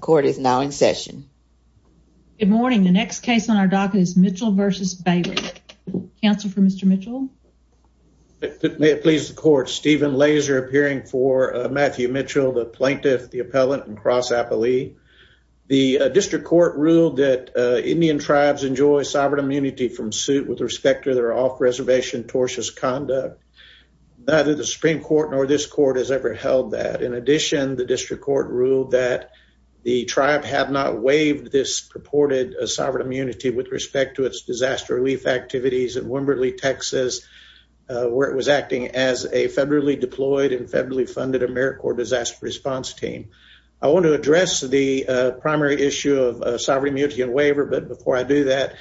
Court is now in session. Good morning. The next case on our docket is Mitchell v. Bailey. Counsel for Mr. Mitchell. May it please the court. Stephen Laser appearing for Matthew Mitchell, the plaintiff, the appellant, and cross appellee. The district court ruled that Indian tribes enjoy sovereign immunity from suit with respect to their off-reservation tortious conduct. Neither the Supreme Court nor this court has ever held that. In addition, the district court ruled that the tribe have not waived this purported sovereign immunity with respect to its disaster relief activities in Wimberley, Texas, where it was acting as a federally deployed and federally funded AmeriCorps disaster response team. I want to address the primary issue of sovereign immunity and waiver, but before I do that,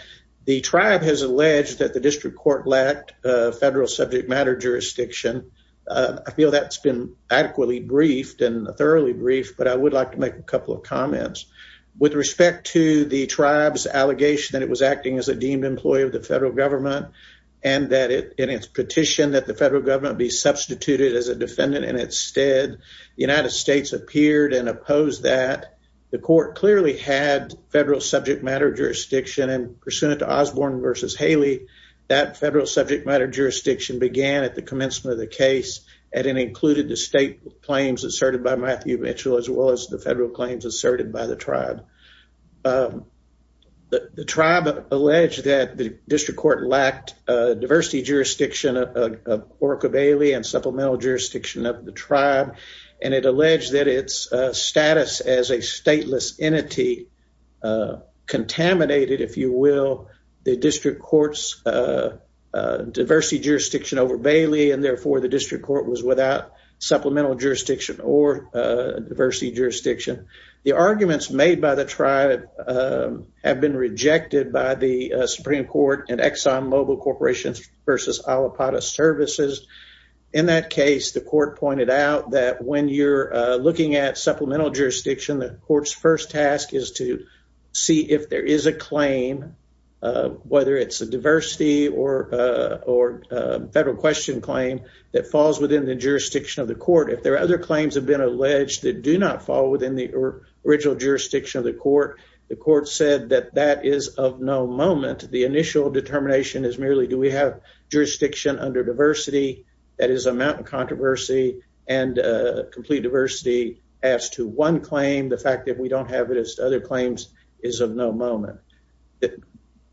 the tribe has alleged that the I feel that's been adequately briefed and thoroughly briefed, but I would like to make a couple of comments with respect to the tribe's allegation that it was acting as a deemed employee of the federal government and that it in its petition that the federal government be substituted as a defendant. And instead, the United States appeared and opposed that the court clearly had federal subject matter jurisdiction and pursuant to Osborne v. Haley, that the commencement of the case, and it included the state claims asserted by Matthew Mitchell, as well as the federal claims asserted by the tribe. The tribe alleged that the district court lacked diversity jurisdiction of Orca Bailey and supplemental jurisdiction of the tribe, and it alleged that its status as a stateless entity contaminated, if you will, the district court's diversity jurisdiction over Bailey, and therefore the district court was without supplemental jurisdiction or diversity jurisdiction. The arguments made by the tribe have been rejected by the Supreme Court and Exxon Mobil Corporations v. Alipata Services. In that case, the court pointed out that when you're looking at supplemental jurisdiction, the court's first task is to see if there is a claim, whether it's a diversity or or federal question claim that falls within the jurisdiction of the court. If there are other claims have been alleged that do not fall within the original jurisdiction of the court, the court said that that is of no moment. The initial determination is merely do we have jurisdiction under diversity? That is a mountain controversy and complete diversity as to one claim. The fact that we don't have it as other claims is of no moment.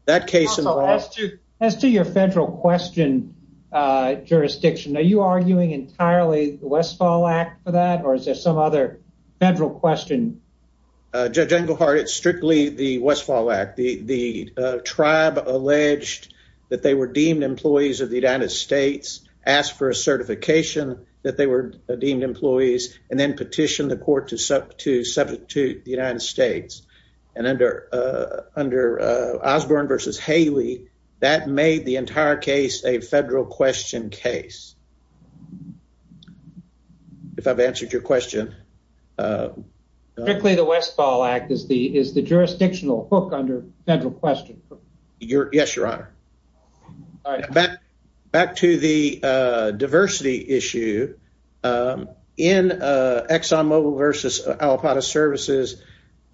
That case in the last two as to your federal question jurisdiction, are you arguing entirely Westfall Act for that? Or is there some other federal question? Judge Englehart, it's strictly the Westfall Act. The tribe alleged that they were deemed employees of the United States, asked for a certification that they were deemed employees and then petitioned the court to sub to substitute the United States. And under under Osborne versus Haley, that made the entire case a federal question case. If I've answered your question, quickly, the Westfall Act is the is the jurisdictional hook under federal question. Yes, Your Honor. All right, back back to the diversity issue. Um, in Exxon Mobil versus Al Apata Services,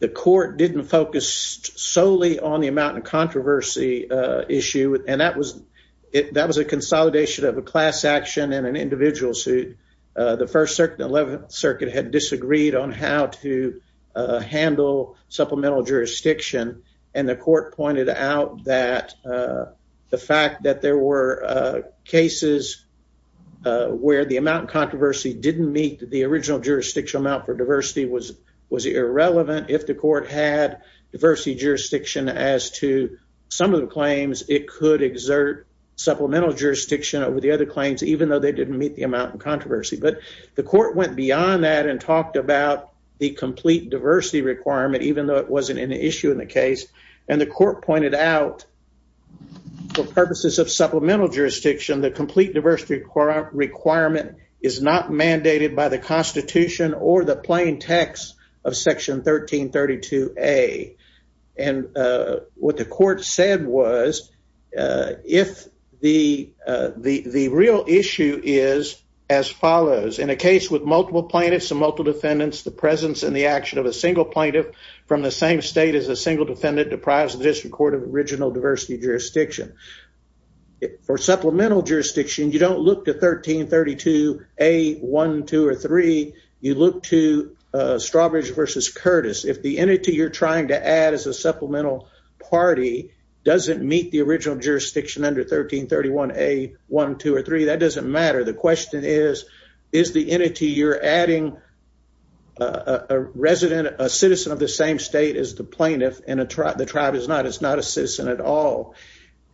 the court didn't focus solely on the amount of controversy issue, and that was that was a consolidation of a class action and an individual suit. The First Circuit 11th Circuit had disagreed on how to handle supplemental jurisdiction, and the court pointed out that the fact that there were cases where the amount controversy didn't meet the original jurisdictional amount for diversity was was irrelevant. If the court had diversity jurisdiction as to some of the claims, it could exert supplemental jurisdiction over the other claims, even though they didn't meet the amount of controversy. But the court went beyond that and talked about the complete diversity requirement, even though it wasn't an issue in the case. And the court pointed out for purposes of supplemental jurisdiction, the complete diversity requirement is not mandated by the Constitution or the plain text of Section 1332 A. And what the court said was, if the the real issue is as follows in a case with multiple plaintiffs and multiple defendants, the presence and the action of a single plaintiff from the same state as a single defendant deprives the District Court of original diversity jurisdiction. For supplemental jurisdiction, you don't look to 1332 A. 1, 2, or 3. You look to Strawbridge v. Curtis. If the entity you're trying to add as a supplemental party doesn't meet the original jurisdiction under 1331 A. 1, 2, or 3, that doesn't matter. The question is, is the entity you're adding a resident, a citizen of the same state as the plaintiff, and the tribe is not a citizen at all?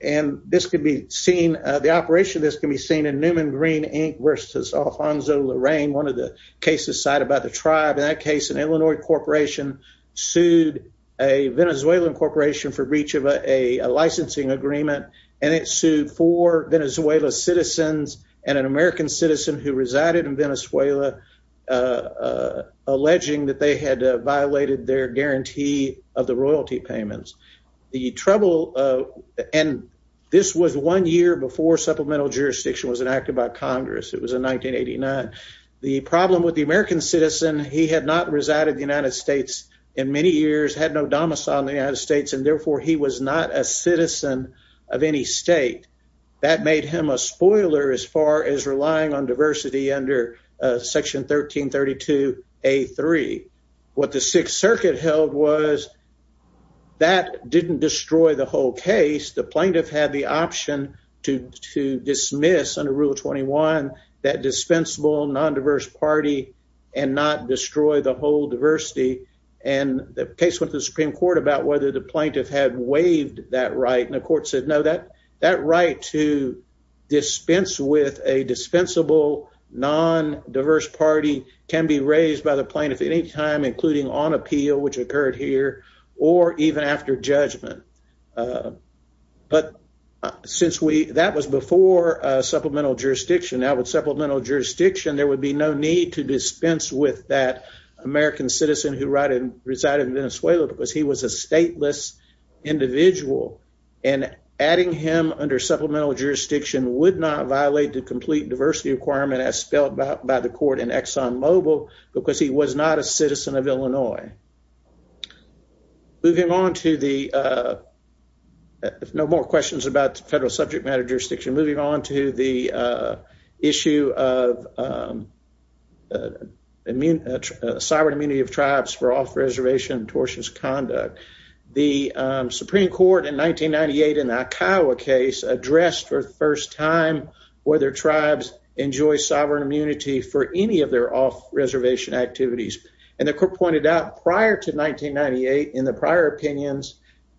And the operation of this can be seen in Newman Green, Inc. v. Alfonso Lorraine, one of the cases cited by the tribe. In that case, an Illinois corporation sued a Venezuelan corporation for breach of a licensing agreement, and it sued four Venezuelan citizens and an American citizen who resided in Venezuela, alleging that they had violated their guarantee of the royalty payments. The trouble, and this was one year before supplemental jurisdiction was enacted by Congress. It was in 1989. The problem with the American citizen, he had not resided in the United States in many years, had no in the United States, and therefore he was not a citizen of any state. That made him a spoiler as far as relying on diversity under Section 1332 A. 3. What the Sixth Circuit held was that didn't destroy the whole case. The plaintiff had the option to dismiss under Rule 21 that dispensable, nondiverse party and not destroy the whole diversity. And the case with the Supreme Court about whether the plaintiff had waived that right, and the court said no, that that right to dispense with a dispensable, nondiverse party can be raised by the plaintiff any time, including on appeal, which occurred here or even after judgment. But since we that was before supplemental jurisdiction, now with that American citizen who right and resided in Venezuela because he was a stateless individual and adding him under supplemental jurisdiction would not violate the complete diversity requirement as spelled out by the court in Exxon Mobil because he was not a citizen of Illinois. Moving on to the, if no more questions about federal subject matter jurisdiction, moving on to the issue of immune, sovereign immunity of tribes for off reservation tortious conduct. The Supreme Court in 1998 in the Akiowa case addressed for the first time whether tribes enjoy sovereign immunity for any of their off reservation activities. And the court pointed out prior to 1998 in the prior opinions,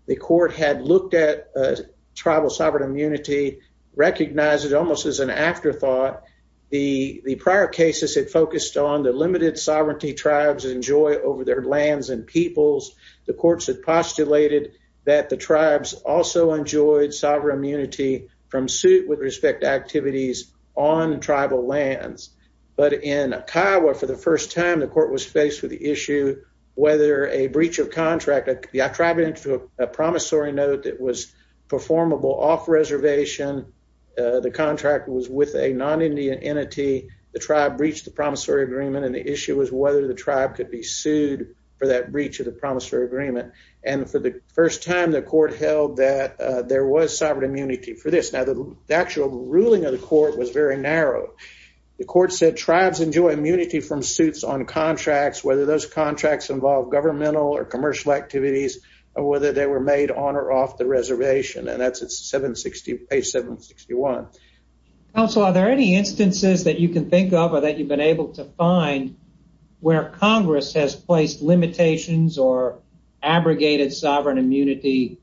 the court had looked at tribal sovereign immunity, recognized it almost as an afterthought. The prior cases had focused on the limited sovereignty tribes enjoy over their lands and peoples. The courts had postulated that the tribes also enjoyed sovereign immunity from suit with respect to activities on tribal lands. But in Akiowa, for the first time, the court was faced with the issue whether a breach of the promissory agreement was performable off reservation. The contract was with a non Indian entity. The tribe breached the promissory agreement, and the issue was whether the tribe could be sued for that breach of the promissory agreement. And for the first time, the court held that there was sovereign immunity for this. Now, the actual ruling of the court was very narrow. The court said tribes enjoy immunity from suits on contracts, whether those contracts involve governmental or reservation. And that's page 761. Also, are there any instances that you can think of or that you've been able to find where Congress has placed limitations or abrogated sovereign immunity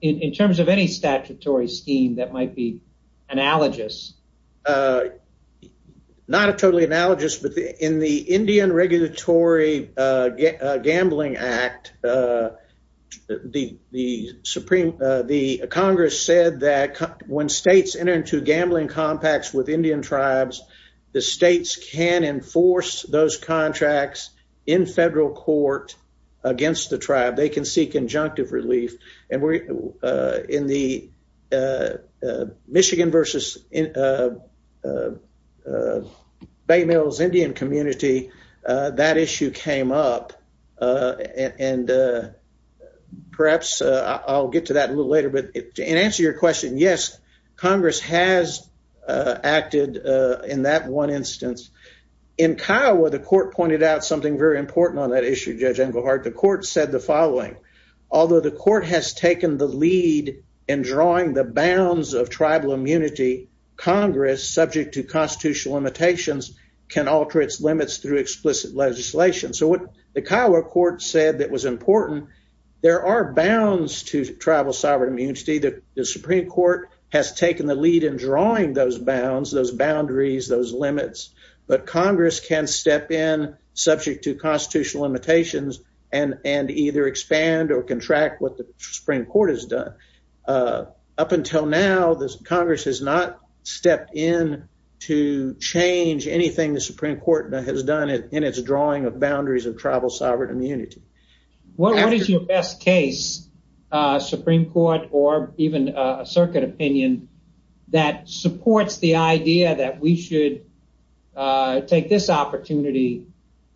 in terms of any statutory scheme that might be analogous? Not a total analogous, but in the Indian Regulatory Gambling Act, the Congress said that when states enter into gambling compacts with Indian tribes, the states can enforce those contracts in federal court against the tribe. They can uh, uh, Bay Mills Indian community. That issue came up. Uh, and, uh, perhaps I'll get to that a little later. But in answer your question, yes, Congress has acted in that one instance. In Kiowa, the court pointed out something very important on that issue. Judge Englehart. The court said the following. Although the court has taken the lead in drawing the bounds of tribal immunity, Congress, subject to constitutional limitations, can alter its limits through explicit legislation. So what the Kiowa court said that was important, there are bounds to tribal sovereign immunity. The Supreme Court has taken the lead in drawing those bounds, those boundaries, those limits. But Congress can step in subject to constitutional limitations and and either expand or contract what the Supreme Court has done. Uh, up until now, the Congress has not stepped in to change anything. The Supreme Court has done it in its drawing of boundaries of tribal sovereign immunity. What is your best case? Uh, Supreme Court or even a circuit opinion that supports the idea that we should, uh, take this opportunity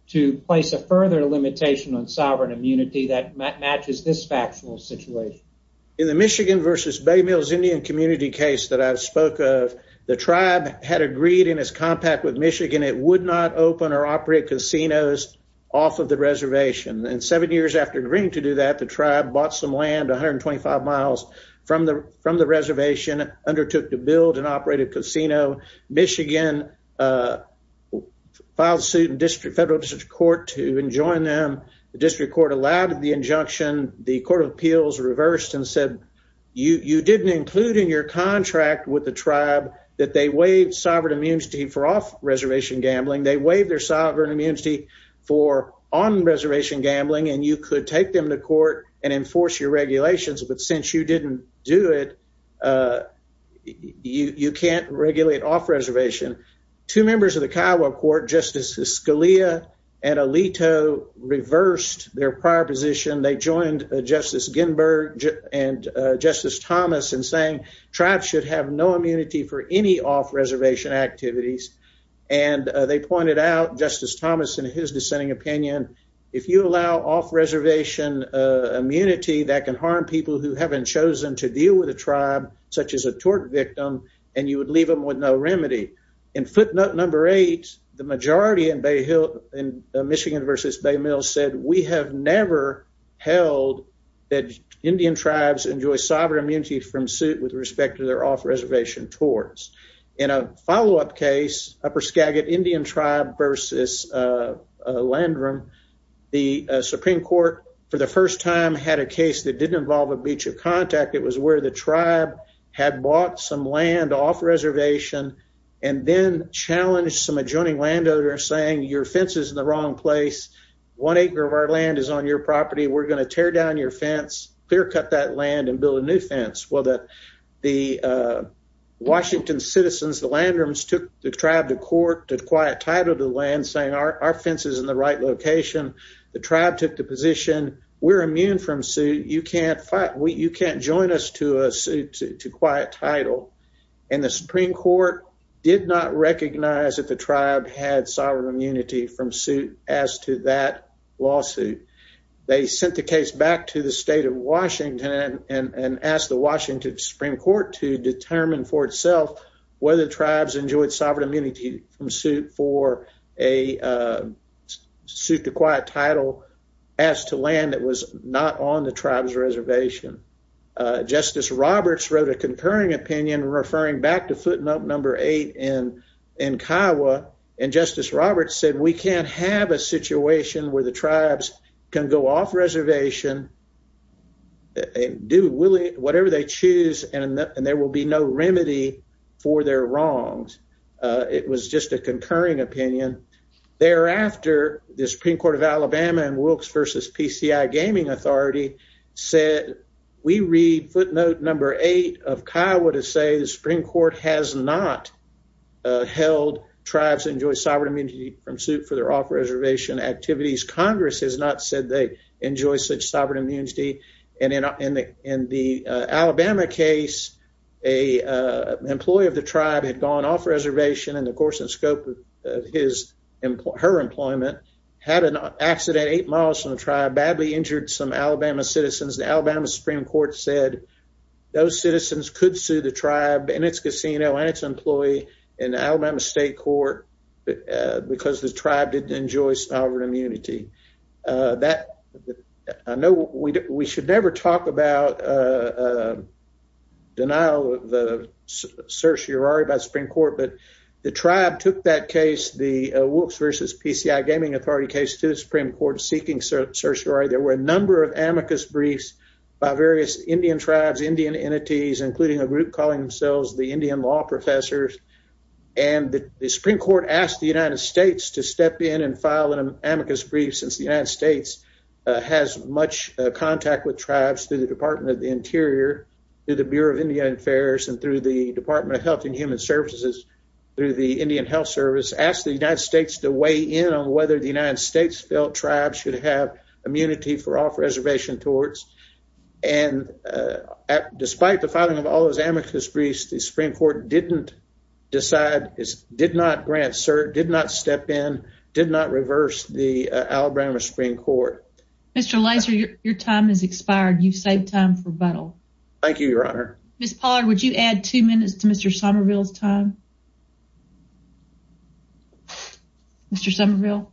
to place a further limitation on sovereign immunity that matches this factual situation in the case that you spoke of, the tribe had agreed in his compact with Michigan. It would not open or operate casinos off of the reservation. And seven years after agreeing to do that, the tribe bought some land 125 miles from the from the reservation, undertook to build and operate a casino. Michigan, uh, filed suit in district federal district court to enjoin them. The district court allowed the injunction. The Court of Appeals reversed and said, you didn't include in your contract with the tribe that they waived sovereign immunity for off reservation gambling. They waived their sovereign immunity for on reservation gambling, and you could take them to court and enforce your regulations. But since you didn't do it, uh, you you can't regulate off reservation. Two members of the Kiowa court, Justice Scalia and Alito, reversed their prior position. They joined Justice Ginsburg and Justice Thomas and saying tribes should have no immunity for any off reservation activities. And they pointed out Justice Thomas and his dissenting opinion. If you allow off reservation immunity that can harm people who haven't chosen to deal with a tribe such as a tort victim, and you would leave him with no remedy. In footnote number eight, the majority in Bay Hill and Michigan versus Bay Mills said, We have never held that Indian tribes enjoy sovereign immunity from suit with respect to their off reservation towards in a follow up case. Upper Skagit Indian tribe versus, uh, land room. The Supreme Court for the first time had a case that didn't involve a beach of contact. It was where the tribe had bought some land off reservation and then challenged some adjoining landowner saying your fences in the wrong place. One acre of our land is on your property. We're gonna tear down your fence, clear cut that land and build a new fence. Well, that the, uh, Washington citizens, the land rooms took the tribe to court did quiet title to land saying our fences in the right location. The tribe took the position. We're immune from suit. You can't fight. You can't join us to a suit to quiet title. And the Supreme Court did not recognize that the tribe had sovereign immunity from suit as to that lawsuit. They sent the case back to the state of Washington and asked the Washington Supreme Court to determine for itself whether tribes enjoyed sovereign immunity from suit for a, uh, suit to quiet title as to land that was not on the tribe's reservation. Justice Roberts wrote a concurring opinion, referring back to and Justice Roberts said we can't have a situation where the tribes can go off reservation and do Willie whatever they choose, and there will be no remedy for their wrongs. It was just a concurring opinion. Thereafter, the Supreme Court of Alabama and Wilkes versus PCI Gaming Authority said we read footnote number eight of Kiowa to say the Supreme Court has not held tribes enjoy sovereign immunity from suit for their off reservation activities. Congress has not said they enjoy such sovereign immunity. And in in the in the Alabama case, a employee of the tribe had gone off reservation and, of course, the scope of his her employment had an accident eight miles from the tribe badly injured some Alabama citizens. The Alabama Supreme Court said those citizens could sue the tribe and its casino and its employee in Alabama State Court because the tribe didn't enjoy sovereign immunity. Uh, that I know we should never talk about, uh, denial of the search your are about Supreme Court. But the tribe took that case. The Wilkes versus PCI Gaming Authority case to the Supreme Court seeking search or there were a number of amicus briefs by various Indian tribes, Indian entities, including a group calling themselves the Indian Law Professors. And the Supreme Court asked the United States to step in and file an amicus brief since the United States has much contact with tribes through the Department of the Interior, through the Bureau of Indian Affairs and through the Department of Health and Human Services. Through the Indian Health Service, asked the United States to weigh in on whether the United States felt tribes should have immunity for off reservation towards. And, uh, despite the filing of all those amicus briefs, the Supreme Court didn't decide, did not grant cert, did not step in, did not reverse the Alabama Supreme Court. Mr. Laser, your time is expired. You've saved time for battle. Thank you, Your Honor. Miss Pollard, would you add two minutes to Mr Somerville's time? Mr Somerville.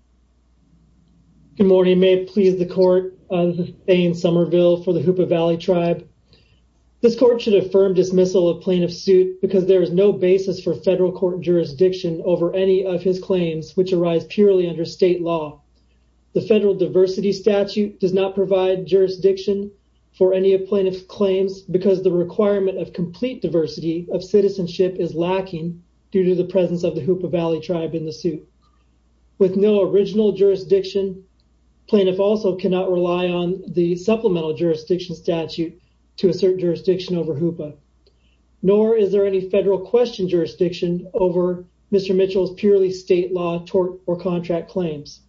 Good morning. May it please the court of Ayn Somerville for the Hoopa Valley tribe. This court should affirm dismissal of plaintiff's suit because there is no basis for federal court jurisdiction over any of his claims, which arise purely under state law. The federal diversity statute does not provide jurisdiction for any of plaintiff's claims because the requirement of complete diversity of citizenship is lacking due to the presence of the Hoopa Valley tribe in the suit. With no original jurisdiction, plaintiff also cannot rely on the supplemental jurisdiction statute to assert jurisdiction over Hoopa, nor is there any federal question jurisdiction over Mr Mitchell's purely state law tort or contract claims.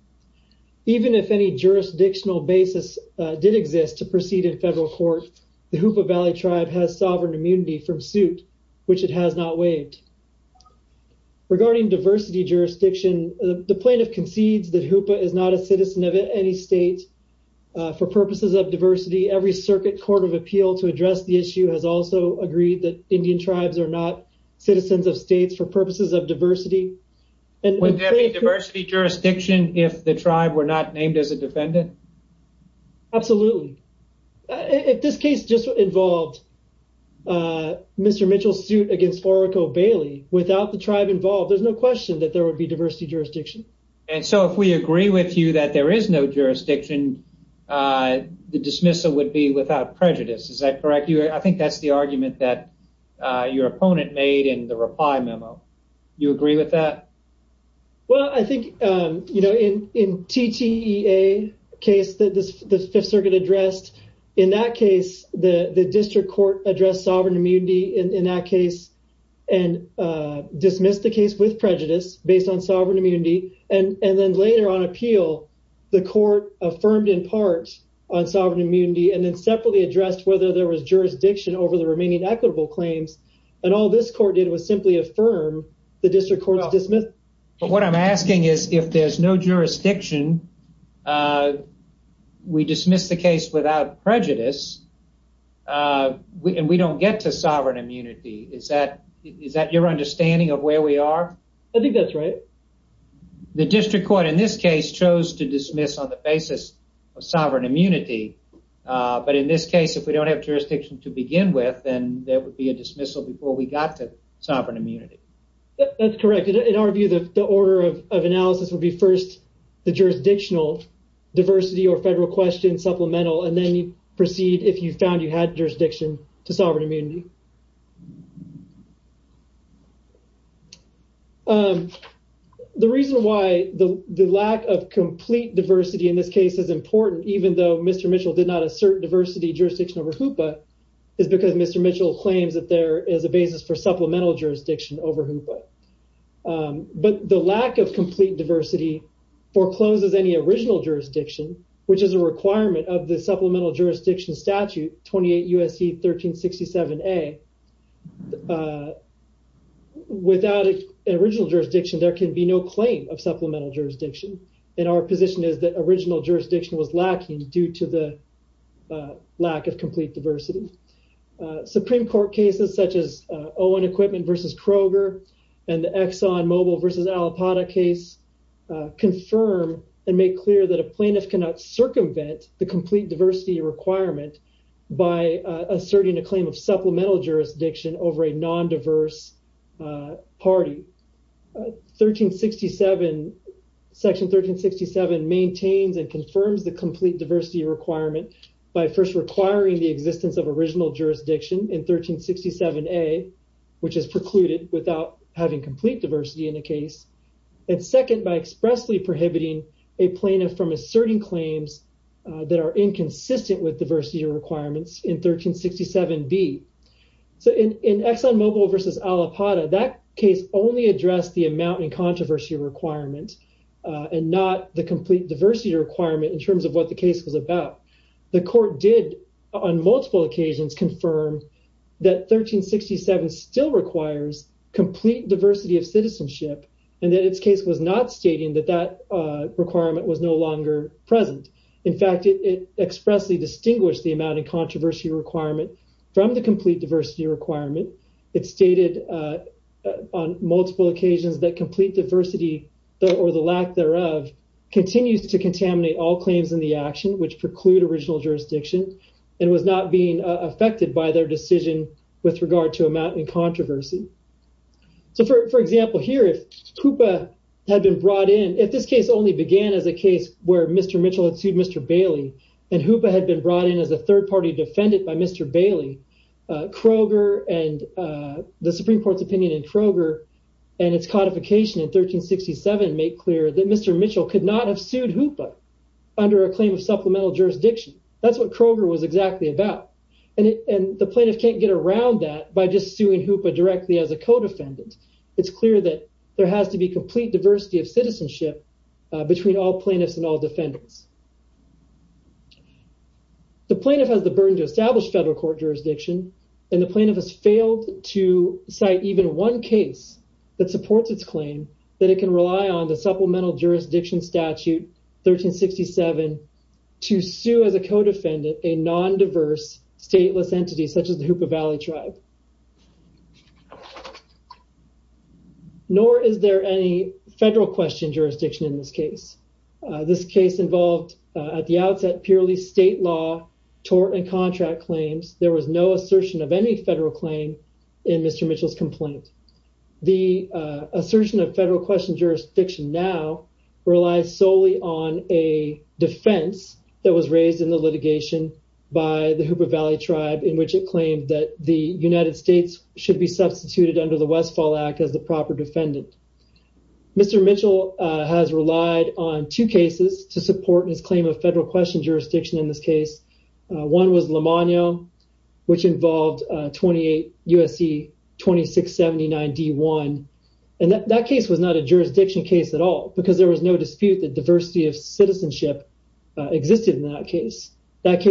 Even if any jurisdictional basis did exist to proceed in federal court, the Hoopa Valley tribe has sovereign immunity from suit, which it has not waived. Regarding diversity jurisdiction, the Hoopa is not a citizen of any state for purposes of diversity. Every circuit court of appeal to address the issue has also agreed that Indian tribes are not citizens of states for purposes of diversity. Would there be diversity jurisdiction if the tribe were not named as a defendant? Absolutely. If this case just involved Mr Mitchell's suit against Oracle Bailey without the tribe involved, there's no question that there would be diversity jurisdiction. And so if we agree with you that there is no jurisdiction, the dismissal would be without prejudice. Is that correct? I think that's the argument that your opponent made in the reply memo. You agree with that? Well, I think in TTEA case that the Fifth Circuit addressed, in that case, the district court addressed sovereign immunity in that case and dismissed the case with prejudice based on sovereign immunity. And then later on appeal, the court affirmed in part on sovereign immunity and then separately addressed whether there was jurisdiction over the remaining equitable claims. And all this court did was simply affirm the district court's dismissal. But what I'm asking is, if there's no jurisdiction, we dismiss the case without prejudice and we don't get to sovereign immunity. Is that is that your understanding of where we are? I think that's right. The district court in this case chose to dismiss on the basis of sovereign immunity. But in this case, if we don't have jurisdiction to begin with, then there would be a dismissal before we got to sovereign immunity. That's correct. In our view, the order of analysis would be first the jurisdictional diversity or federal question supplemental. And then you proceed if you found you had jurisdiction to sovereign immunity. The reason why the lack of complete diversity in this case is important, even though Mr Mitchell did not assert diversity jurisdiction over Hoopa, is because Mr Mitchell claims that there is a basis for supplemental jurisdiction over Hoopa. But the lack of complete diversity forecloses any original jurisdiction, which is a requirement of the supplemental jurisdiction statute 28 U. S. C. 13 67 A. Without an original jurisdiction, there could be no claim of supplemental jurisdiction. And our position is that original jurisdiction was lacking due to the lack of complete diversity. Supreme Court cases such as Owen Equipment versus Kroger and the Exxon Mobile versus Alipata case confirm and make clear that a plaintiff cannot circumvent the complete diversity requirement by asserting a claim of supplemental jurisdiction over a nondiverse party. Section 13 67 maintains and confirms the complete diversity requirement by first requiring the existence of original jurisdiction in 13 67 A, which is precluded without having complete diversity in the case, and second, by expressly prohibiting a plaintiff from asserting claims that are inconsistent with diversity requirements in 13 67 B. So in in Exxon Mobile versus Alipata, that case only addressed the amount and controversy requirement and not the complete diversity requirement in terms of what the case was about. The court did on multiple occasions confirm that 13 67 still requires complete diversity of citizenship, and that its case was not stating that that requirement was no longer present. In fact, it expressly distinguished the amount and controversy requirement from the complete diversity requirement. It stated on multiple occasions that complete diversity or the lack thereof continues to contaminate all claims in the action which preclude original jurisdiction and was not being affected by their decision with regard to amount and controversy. So, for example, here, if Hoopa had been brought in, if this case only began as a case where Mr. Mitchell had sued Mr. Bailey and Hoopa had been brought in as a third party defendant by Mr. Bailey, Kroger and the Supreme Court's opinion in Kroger and its codification in 13 67 make clear that Mr. Mitchell could not have sued Hoopa under a claim of supplemental jurisdiction. That's what Kroger was exactly about. And the claim that Mr. Mitchell could not have sued Hoopa directly as a code defendant. It's clear that there has to be complete diversity of citizenship between all plaintiffs and all defendants. The plaintiff has the burden to establish federal court jurisdiction, and the plaintiff has failed to cite even one case that supports its claim that it can rely on the supplemental jurisdiction statute 13 67 to sue as a codefendant, a court defendant. Nor is there any federal question jurisdiction in this case. This case involved at the outset purely state law, tort and contract claims. There was no assertion of any federal claim in Mr. Mitchell's complaint. The assertion of federal question jurisdiction now relies solely on a defense that was raised in the litigation by the Hoopa Valley tribe, in which it claimed that the United States should be substituted under the Westfall Act as the proper defendant. Mr. Mitchell has relied on two cases to support his claim of federal question jurisdiction in this case. One was Lomano, which involved 28 USC 2679 D1. And that case was not a jurisdiction case at all, because there was no dispute that diversity of citizenship existed in that case. That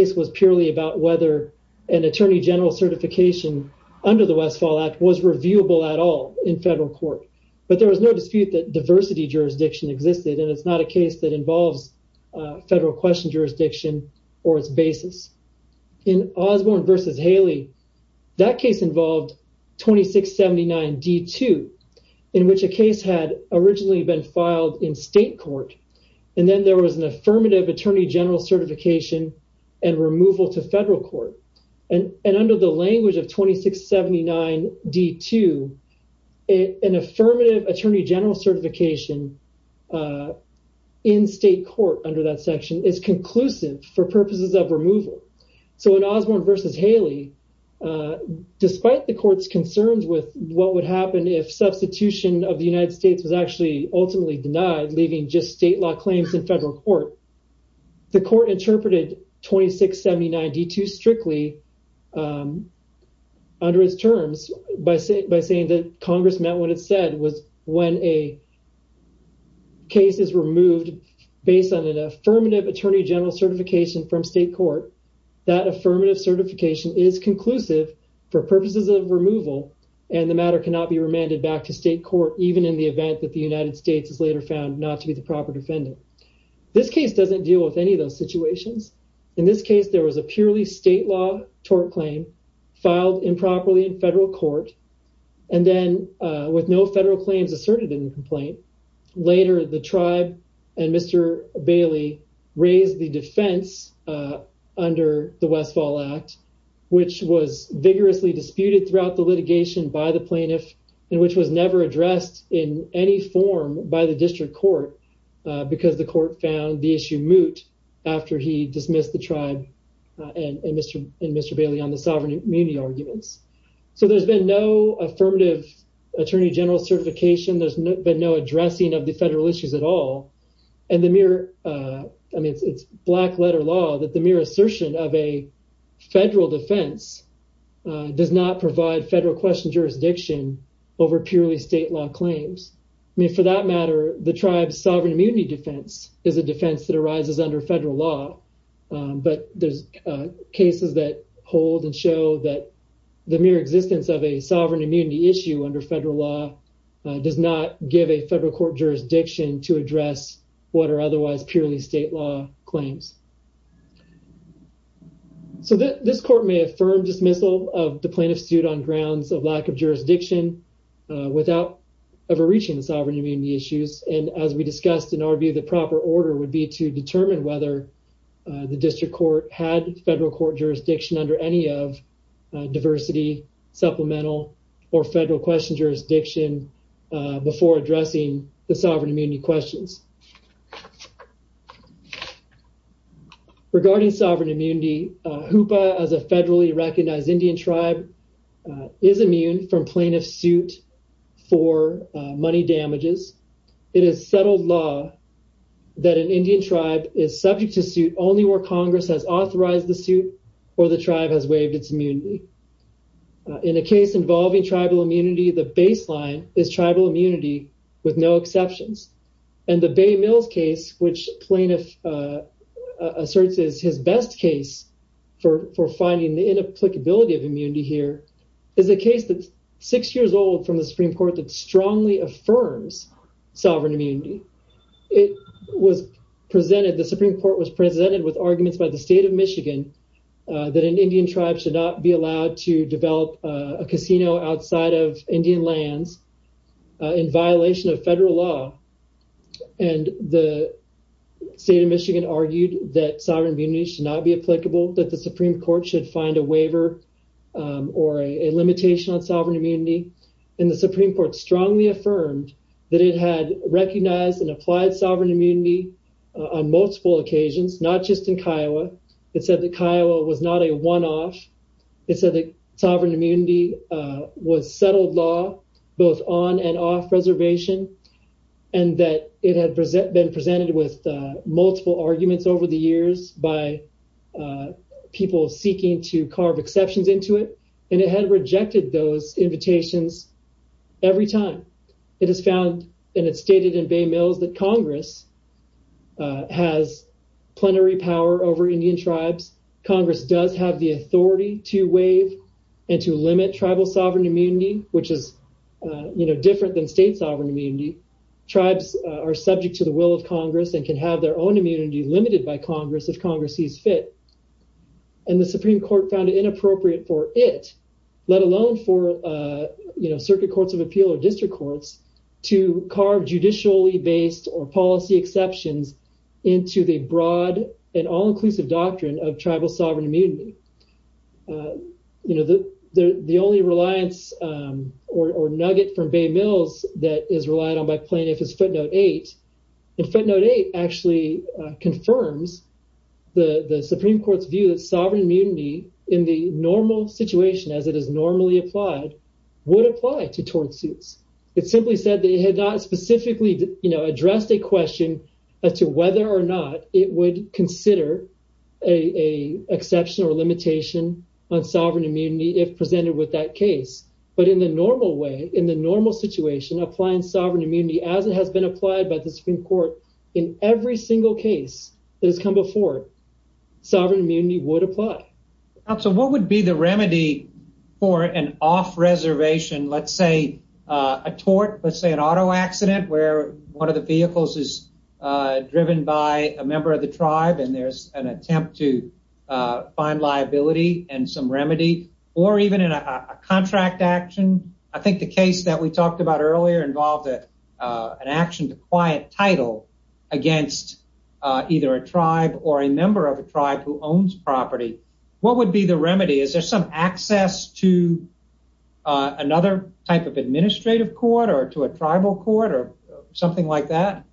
attorney general certification under the Westfall Act was reviewable at all in federal court. But there was no dispute that diversity jurisdiction existed, and it's not a case that involves federal question jurisdiction or its basis. In Osborne versus Haley, that case involved 2679 D2, in which a case had originally been filed in state court. And then there was an affirmative attorney general certification and removal to federal court. And under the language of 2679 D2, an affirmative attorney general certification in state court under that section is conclusive for purposes of removal. So in Osborne versus Haley, despite the court's concerns with what would happen if substitution of the United States was actually ultimately denied, leaving just state law claims in federal court, the court interpreted 2679 D2 strictly under its terms by saying that Congress meant what it said was when a case is removed, based on an affirmative attorney general certification from state court, that affirmative certification is conclusive for purposes of removal, and the matter cannot be remanded back to state court even in the event that the United States is later found not to be the proper defendant. This case doesn't deal with any of those situations. In this case, there was a purely state law tort claim filed improperly in federal court. And then with no federal claims asserted in the complaint, later the tribe and Mr. Bailey raised the defense under the Westfall Act, which was vigorously disputed throughout the litigation by the plaintiff, and which was never addressed in any form by the district court, because the court found the issue moot after he dismissed the tribe and Mr. Bailey on the sovereign immunity arguments. So there's been no affirmative attorney general certification, there's been no addressing of the federal issues at all. And the mere, I mean, it's black letter law that the mere assertion of a federal defense does not provide federal question jurisdiction over purely state law claims. I mean, for that matter, the tribe's sovereign immunity defense is a defense that arises under federal law. But there's cases that hold and show that the mere existence of a sovereign immunity issue under federal law does not give a federal court jurisdiction to address what are otherwise purely state law claims. So this court may affirm dismissal of the plaintiff's suit on grounds of lack of jurisdiction without ever reaching the sovereign immunity issues. And as we discussed in our view, the proper order would be to determine whether the district court had federal court jurisdiction under any of diversity, supplemental, or federal question jurisdiction before addressing the sovereign immunity. Hoopa as a federally recognized Indian tribe is immune from plaintiff's suit for money damages. It is settled law that an Indian tribe is subject to suit only where Congress has authorized the suit or the tribe has waived its immunity. In a case involving tribal immunity, the baseline is tribal immunity with no exceptions. And the Bay Mills case, which plaintiff asserts is his best case for finding the inapplicability of immunity here, is a case that's six years old from the Supreme Court that strongly affirms sovereign immunity. The Supreme Court was presented with arguments by the state of Michigan that an Indian tribe should not be allowed to develop a casino outside of Indian lands in violation of federal law. And the state of Michigan argued that sovereign immunity should not be applicable, that the Supreme Court should find a waiver or a limitation on sovereign immunity. And the Supreme Court strongly affirmed that it had recognized and applied sovereign immunity on multiple occasions, not just in Kiowa. It said that Kiowa was not a one off. It said that sovereign immunity was settled law, both on and off reservation, and that it had been presented with multiple arguments over the years by people seeking to carve exceptions into it. And it had rejected those invitations every time. It has found and it stated in Bay Mills that Congress has plenary power over Indian tribes. Congress does have the authority to waive and to limit tribal sovereign immunity, which is different than state sovereign immunity. Tribes are subject to the will of Congress and can have their own immunity limited by Congress if Congress sees fit. And the Supreme Court found it inappropriate for it, let alone for, you know, circuit courts of appeal or district courts to carve judicially based or policy exceptions into the broad and all inclusive doctrine of tribal sovereign immunity. You know, the only reliance or nugget from Bay Mills that is relied on by plaintiff is footnote eight. And footnote eight actually confirms the Supreme Court's view that sovereign immunity in the normal situation as it is normally applied, would apply to tort suits. It simply said they had not specifically, you know, addressed a question as to whether or not it would consider a exception or limitation on sovereign immunity if presented with that case. But in the normal way, in the normal situation, applying sovereign immunity as it has been applied by the Supreme Court in every single case that has come before sovereign immunity would apply. So what would be the remedy for an off reservation? Let's say a tort, let's say an auto accident where one of the vehicles is driven by a member of the tribe and there's an attempt to find liability and some remedy or even in a contract action. I think the case that we talked about earlier involved an action to quiet title against either a tribe or a member of a tribe who owns property. What would be the remedy? Is there some access to another type of administrative court or to a tribal court or something like that?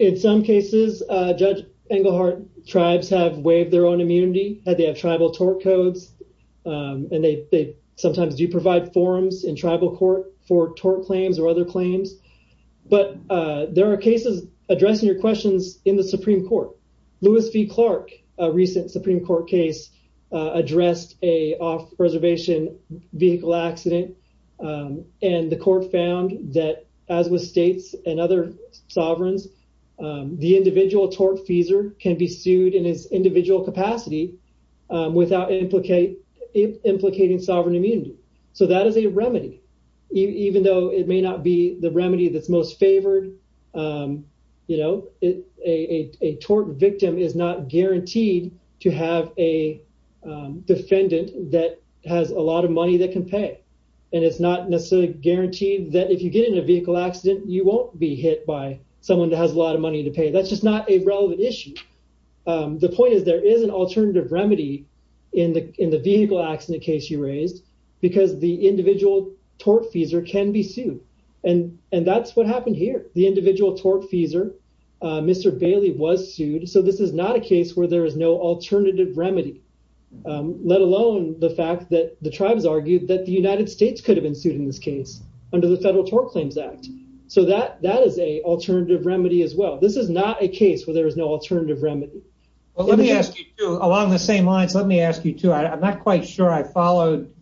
In some cases, Judge Englehart, tribes have waived their own immunity had they tribal tort codes and they sometimes do provide forms in tribal court for tort claims or other claims. But there are cases addressing your questions in the Supreme Court. Lewis v. Clark, a recent Supreme Court case, addressed a off reservation vehicle accident. And the court found that as with states and other sovereigns, the individual tortfeasor can be sued in his individual capacity without implicating sovereign immunity. So that is a remedy, even though it may not be the remedy that's most favored. You know, a tort victim is not guaranteed to have a defendant that has a lot of money that can pay. And it's not necessarily guaranteed that if you get in a vehicle accident, you won't be hit by someone that has a lot of money to pay. That's just not a relevant issue. The point is, there is an alternative remedy in the vehicle accident case you raised because the individual tortfeasor can be sued. And that's what happened here. The individual tortfeasor, Mr. Bailey, was sued. So this is not a case where there is no alternative remedy, let alone the fact that the tribes argued that the United States could have been sued in this case under the Federal Tort Claims Act. So that is a alternative remedy as well. This is not a case where there is no alternative remedy. Well, let me ask you along the same lines. Let me ask you, too. I'm not quite sure I followed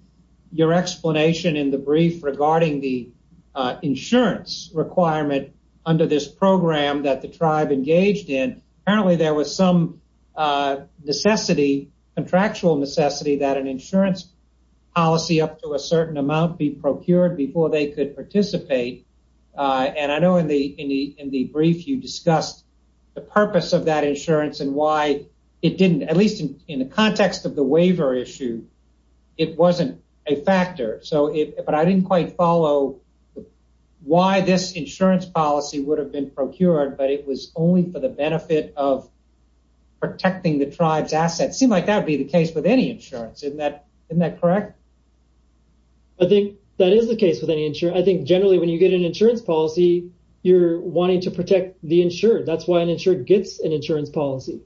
your explanation in the brief regarding the insurance requirement under this program that the tribe engaged in. Apparently, there was some necessity, contractual necessity, that an insurance policy up to a certain amount be procured before they could participate. And I know in the in the in the brief you discussed the purpose of that insurance and why it didn't, at least in the context of the waiver issue, it wasn't a factor. So it but I didn't quite follow why this insurance policy would have been procured, but it was only for the benefit of protecting the tribe's assets. It seemed like that would be the case with any insurance. Isn't that correct? I think that is the case with any insurance. I think generally, when you get an insurance policy, you're wanting to protect the insured. That's why an insured gets an insurance policy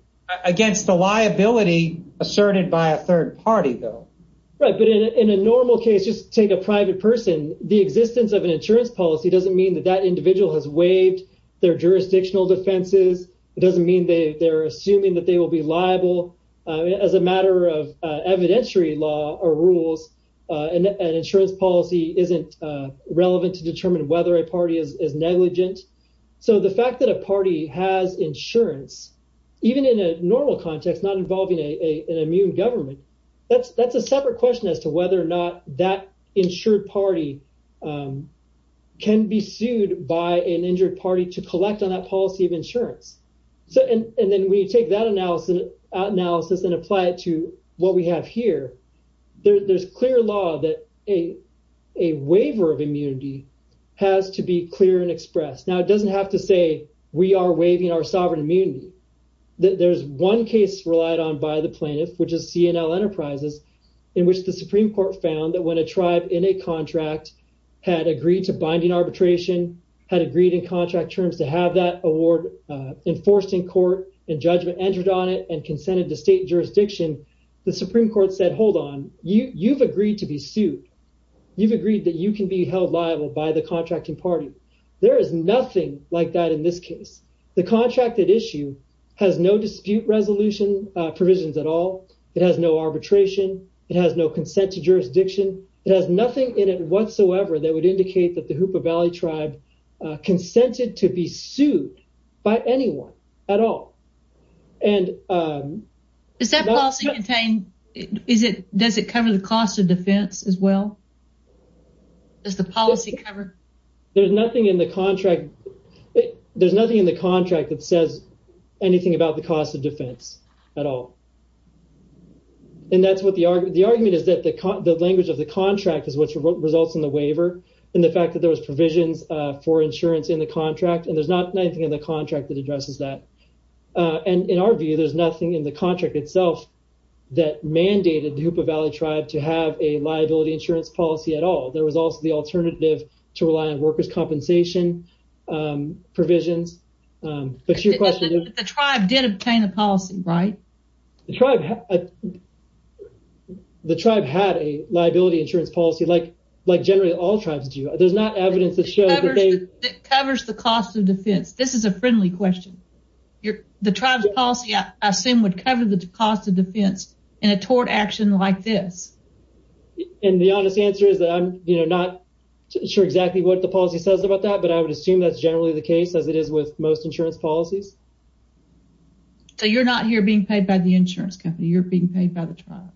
against the liability asserted by a third party, though. Right. But in a normal case, just take a private person. The existence of an insurance policy doesn't mean that that individual has waived their jurisdictional defenses. It doesn't mean they're assuming that they will be liable as a matter of evidentiary law or rules. An insurance policy isn't relevant to determine whether a party is negligent. So the fact that a party has insurance, even in a normal context, not involving a an immune government, that's that's a separate question as to whether or not that insured party can be sued by an injured party to collect on that policy of insurance. So and then we take that analysis and apply it to what we have here. There's clear law that a a waiver of immunity has to be clear and expressed. Now, it doesn't have to say we are waiving our sovereign immunity. There's one case relied on by the plaintiff, which is C&L Enterprises, in which the Supreme Court found that when a tribe in a contract had agreed to binding arbitration, had agreed in contract terms to have that award enforced in court and judgment entered on it and consented to state jurisdiction, the Supreme Court said, hold on, you you've agreed to be held liable by the contracting party. There is nothing like that in this case. The contract that issue has no dispute resolution provisions at all. It has no arbitration. It has no consent to jurisdiction. It has nothing in it whatsoever that would indicate that the Hoopa Valley tribe consented to be sued by anyone at all. And is that policy contained? Is it does it cover the cost of defense as well? Does the policy cover? There's nothing in the contract. There's nothing in the contract that says anything about the cost of defense at all. And that's what the argument is that the language of the contract is what results in the waiver and the fact that there was provisions for insurance in the contract. And there's not anything in the contract that addresses that. And in our view, there's nothing in the contract itself that mandated the Hoopa Valley tribe to have a liability insurance policy at all. There was also the alternative to rely on workers' compensation provisions. But your question is. The tribe did obtain a policy, right? The tribe, the tribe had a liability insurance policy like like generally all tribes do. There's not evidence that shows that they. It covers the cost of defense. This is a friendly question. The tribe's policy, I assume, would cover the cost of defense in a tort action like this. And the honest answer is that I'm not sure exactly what the policy says about that, but I would assume that's generally the case as it is with most insurance policies. So you're not here being paid by the insurance company, you're being paid by the tribe.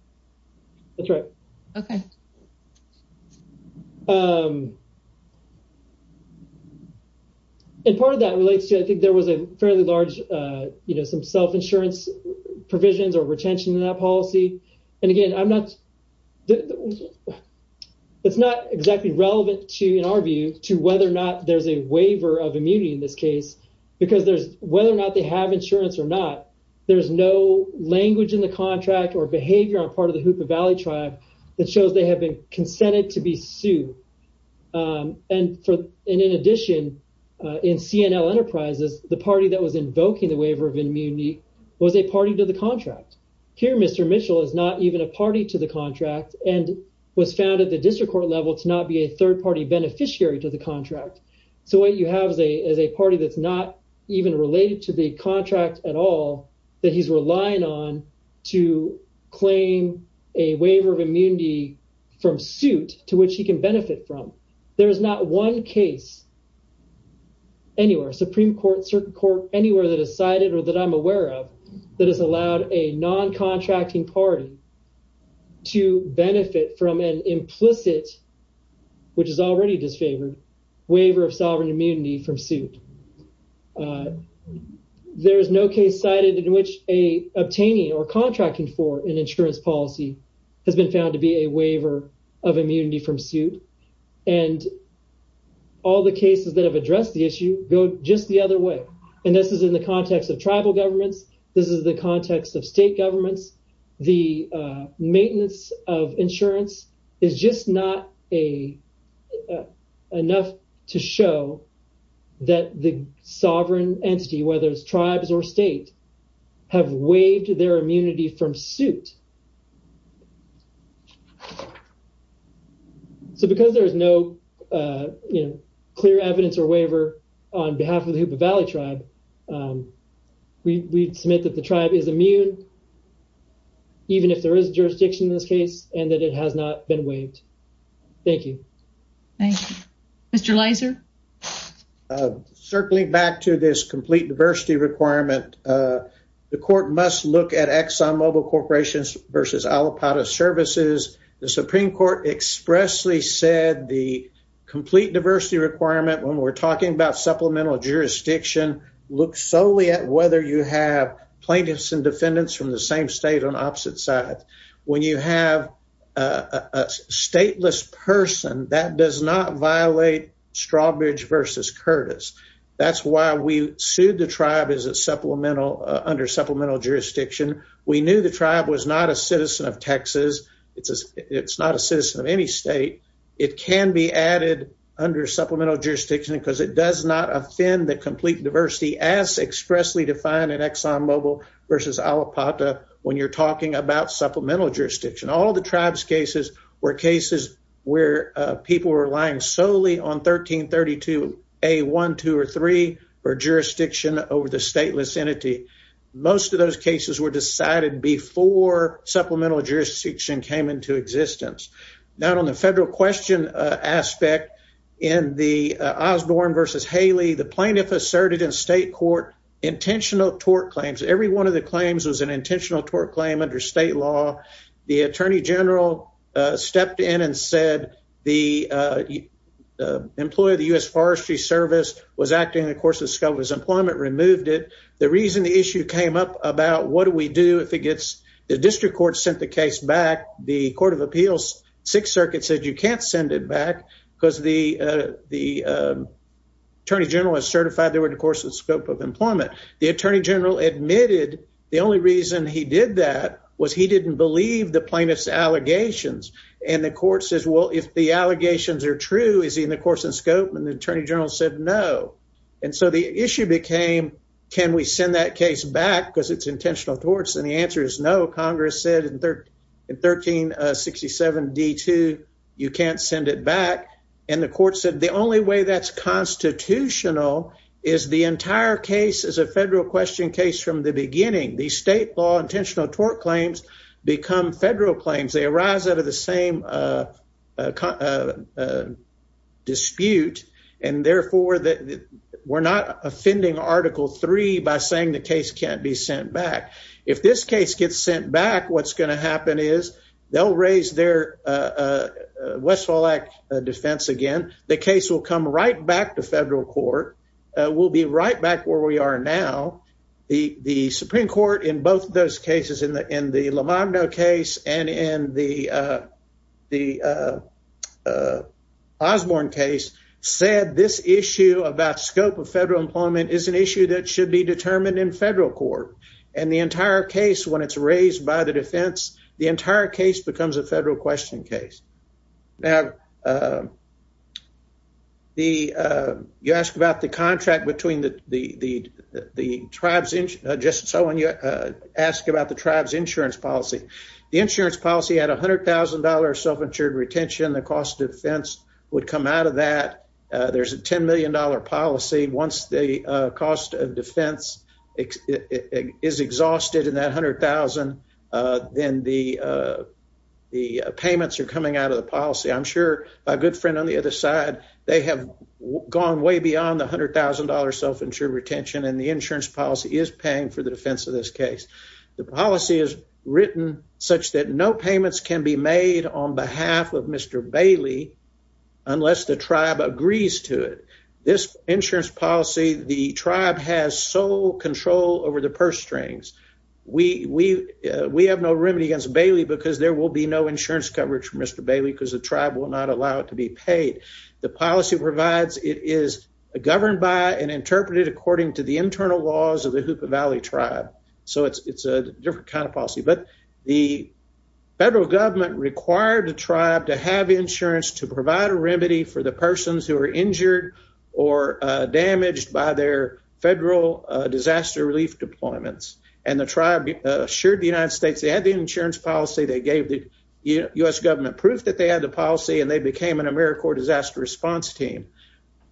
That's right. Okay. And part of that relates to I think there was a fairly large, you know, some self insurance provisions or retention in that policy. And again, I'm not. It's not exactly relevant to, in our view, to whether or not there's a waiver of immunity in this case, because there's whether or not they have insurance or not, there's no language in the contract or behavior on part of the Hoopa Valley tribe that shows they have been consented to be sued. And for, and in addition, in CNL Enterprises, the party that was invoking the waiver of immunity was a party to the contract. Here, Mr. Mitchell is not even a party to the contract and was found at the district court level to not be a third party beneficiary to the contract. So what you have is a party that's not even related to the contract at all that he's relying on to claim a waiver of immunity from suit to which he can benefit from. There is not one case anywhere, Supreme Court, Circuit Court, anywhere that has been aware of that has allowed a non-contracting party to benefit from an implicit, which is already disfavored, waiver of sovereign immunity from suit. There is no case cited in which a obtaining or contracting for an insurance policy has been found to be a waiver of immunity from suit. And all the cases that have addressed the issue go just the other way. And this is in the context of tribal governments. This is the context of state governments. The maintenance of insurance is just not enough to show that the sovereign entity, whether it's tribes or state, have waived their immunity from suit. So because there is no clear evidence or waiver on behalf of the Hoopa Valley Tribe, we submit that the tribe is immune, even if there is jurisdiction in this case, and that it has not been waived. Thank you. Thank you. Mr. Leiser? Circling back to this complete diversity requirement, the court must look at Exxon Mobil Corporations versus Alipata Services. The Supreme Court expressly said the complete diversity requirement when we're talking about supplemental jurisdiction looks solely at whether you have plaintiffs and defendants from the same state on opposite sides. When you have a stateless person, that does not violate Strawbridge versus Curtis. That's why we sued the tribe as a supplemental under supplemental jurisdiction. We knew the tribe was not a citizen of Texas. It's not a citizen of any state. It can be added under supplemental jurisdiction because it does not offend the complete diversity as expressly defined in Exxon Mobil versus Alipata when you're talking about supplemental jurisdiction. All of the tribe's cases were cases where people were relying solely on 1332 A1, 2, or 3 for jurisdiction over the stateless entity. Most of those cases were decided before supplemental jurisdiction came into existence. Now, on the federal question aspect, in the Osborne versus Haley, the plaintiff asserted in state court intentional tort claims. Every one of the claims was an intentional tort claim under state law. The attorney general stepped in and said the employee of the U.S. Forestry Service was acting in the course of discovery. His employment removed it. The reason the issue came up about what do we do if it gets the district court sent the case back, the Court of Appeals Sixth Circuit said you can't send it back because the attorney general is certified they were in the course and scope of employment. The attorney general admitted the only reason he did that was he didn't believe the plaintiff's allegations. And the court says, well, if the allegations are true, is he in the course and scope? And the attorney general said no. And so the issue became, can we send that case back because it's intentional torts? And the answer is no. Congress said in 1367 D2, you can't send it back. And the court said the only way that's constitutional is the entire case is a federal question case from the beginning. These state law intentional tort claims become federal claims. They arise out of the same dispute. And therefore, we're not offending Article 3 by saying the case can't be sent back. If this case gets sent back, what's going to happen is they'll raise their Westfall Act defense again. The case will come right back to federal court. We'll be right back where we are now. The Supreme Court in both those cases, in the in the Lomando case and in the the Osborne case, said this issue about scope of federal employment is an issue that should be determined in federal court. And the entire case, when it's raised by the defense, the entire case becomes a federal question case. Now, you ask about the contract between the tribes, just so when you ask about the tribes insurance policy, the insurance policy at $100,000 self-insured retention, the cost of defense would come out of that. There's a $10 million policy. Once the cost of defense is exhausted in that $100,000, then the the payments are coming out of the policy. I'm sure my good friend on the other side, they have gone way beyond the $100,000 self-insured retention and the insurance policy is paying for the defense of this case. The policy is written such that no payments can be made on behalf of Mr. Bailey. Mr. Bailey agrees to it. This insurance policy, the tribe has sole control over the purse strings. We we we have no remedy against Bailey because there will be no insurance coverage for Mr. Bailey because the tribe will not allow it to be paid. The policy provides it is governed by and interpreted according to the internal laws of the Hupa Valley tribe. So it's a different kind of policy. But the federal government required the tribe to have insurance to provide a remedy for the persons who are injured or damaged by their federal disaster relief deployments. And the tribe assured the United States they had the insurance policy. They gave the U.S. government proof that they had the policy and they became an AmeriCorps disaster response team.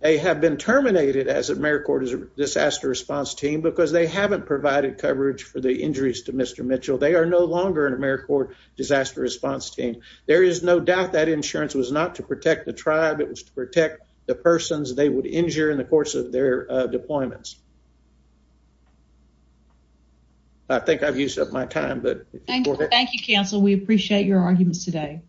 They have been terminated as AmeriCorps disaster response team because they haven't provided coverage for the injuries to Mr. Mitchell. They are no longer an AmeriCorps disaster response team. There is no doubt that insurance was not to protect the tribe. It was to protect the persons they would injure in the course of their deployments. I think I've used up my time, but thank you. Counsel, we appreciate your arguments today.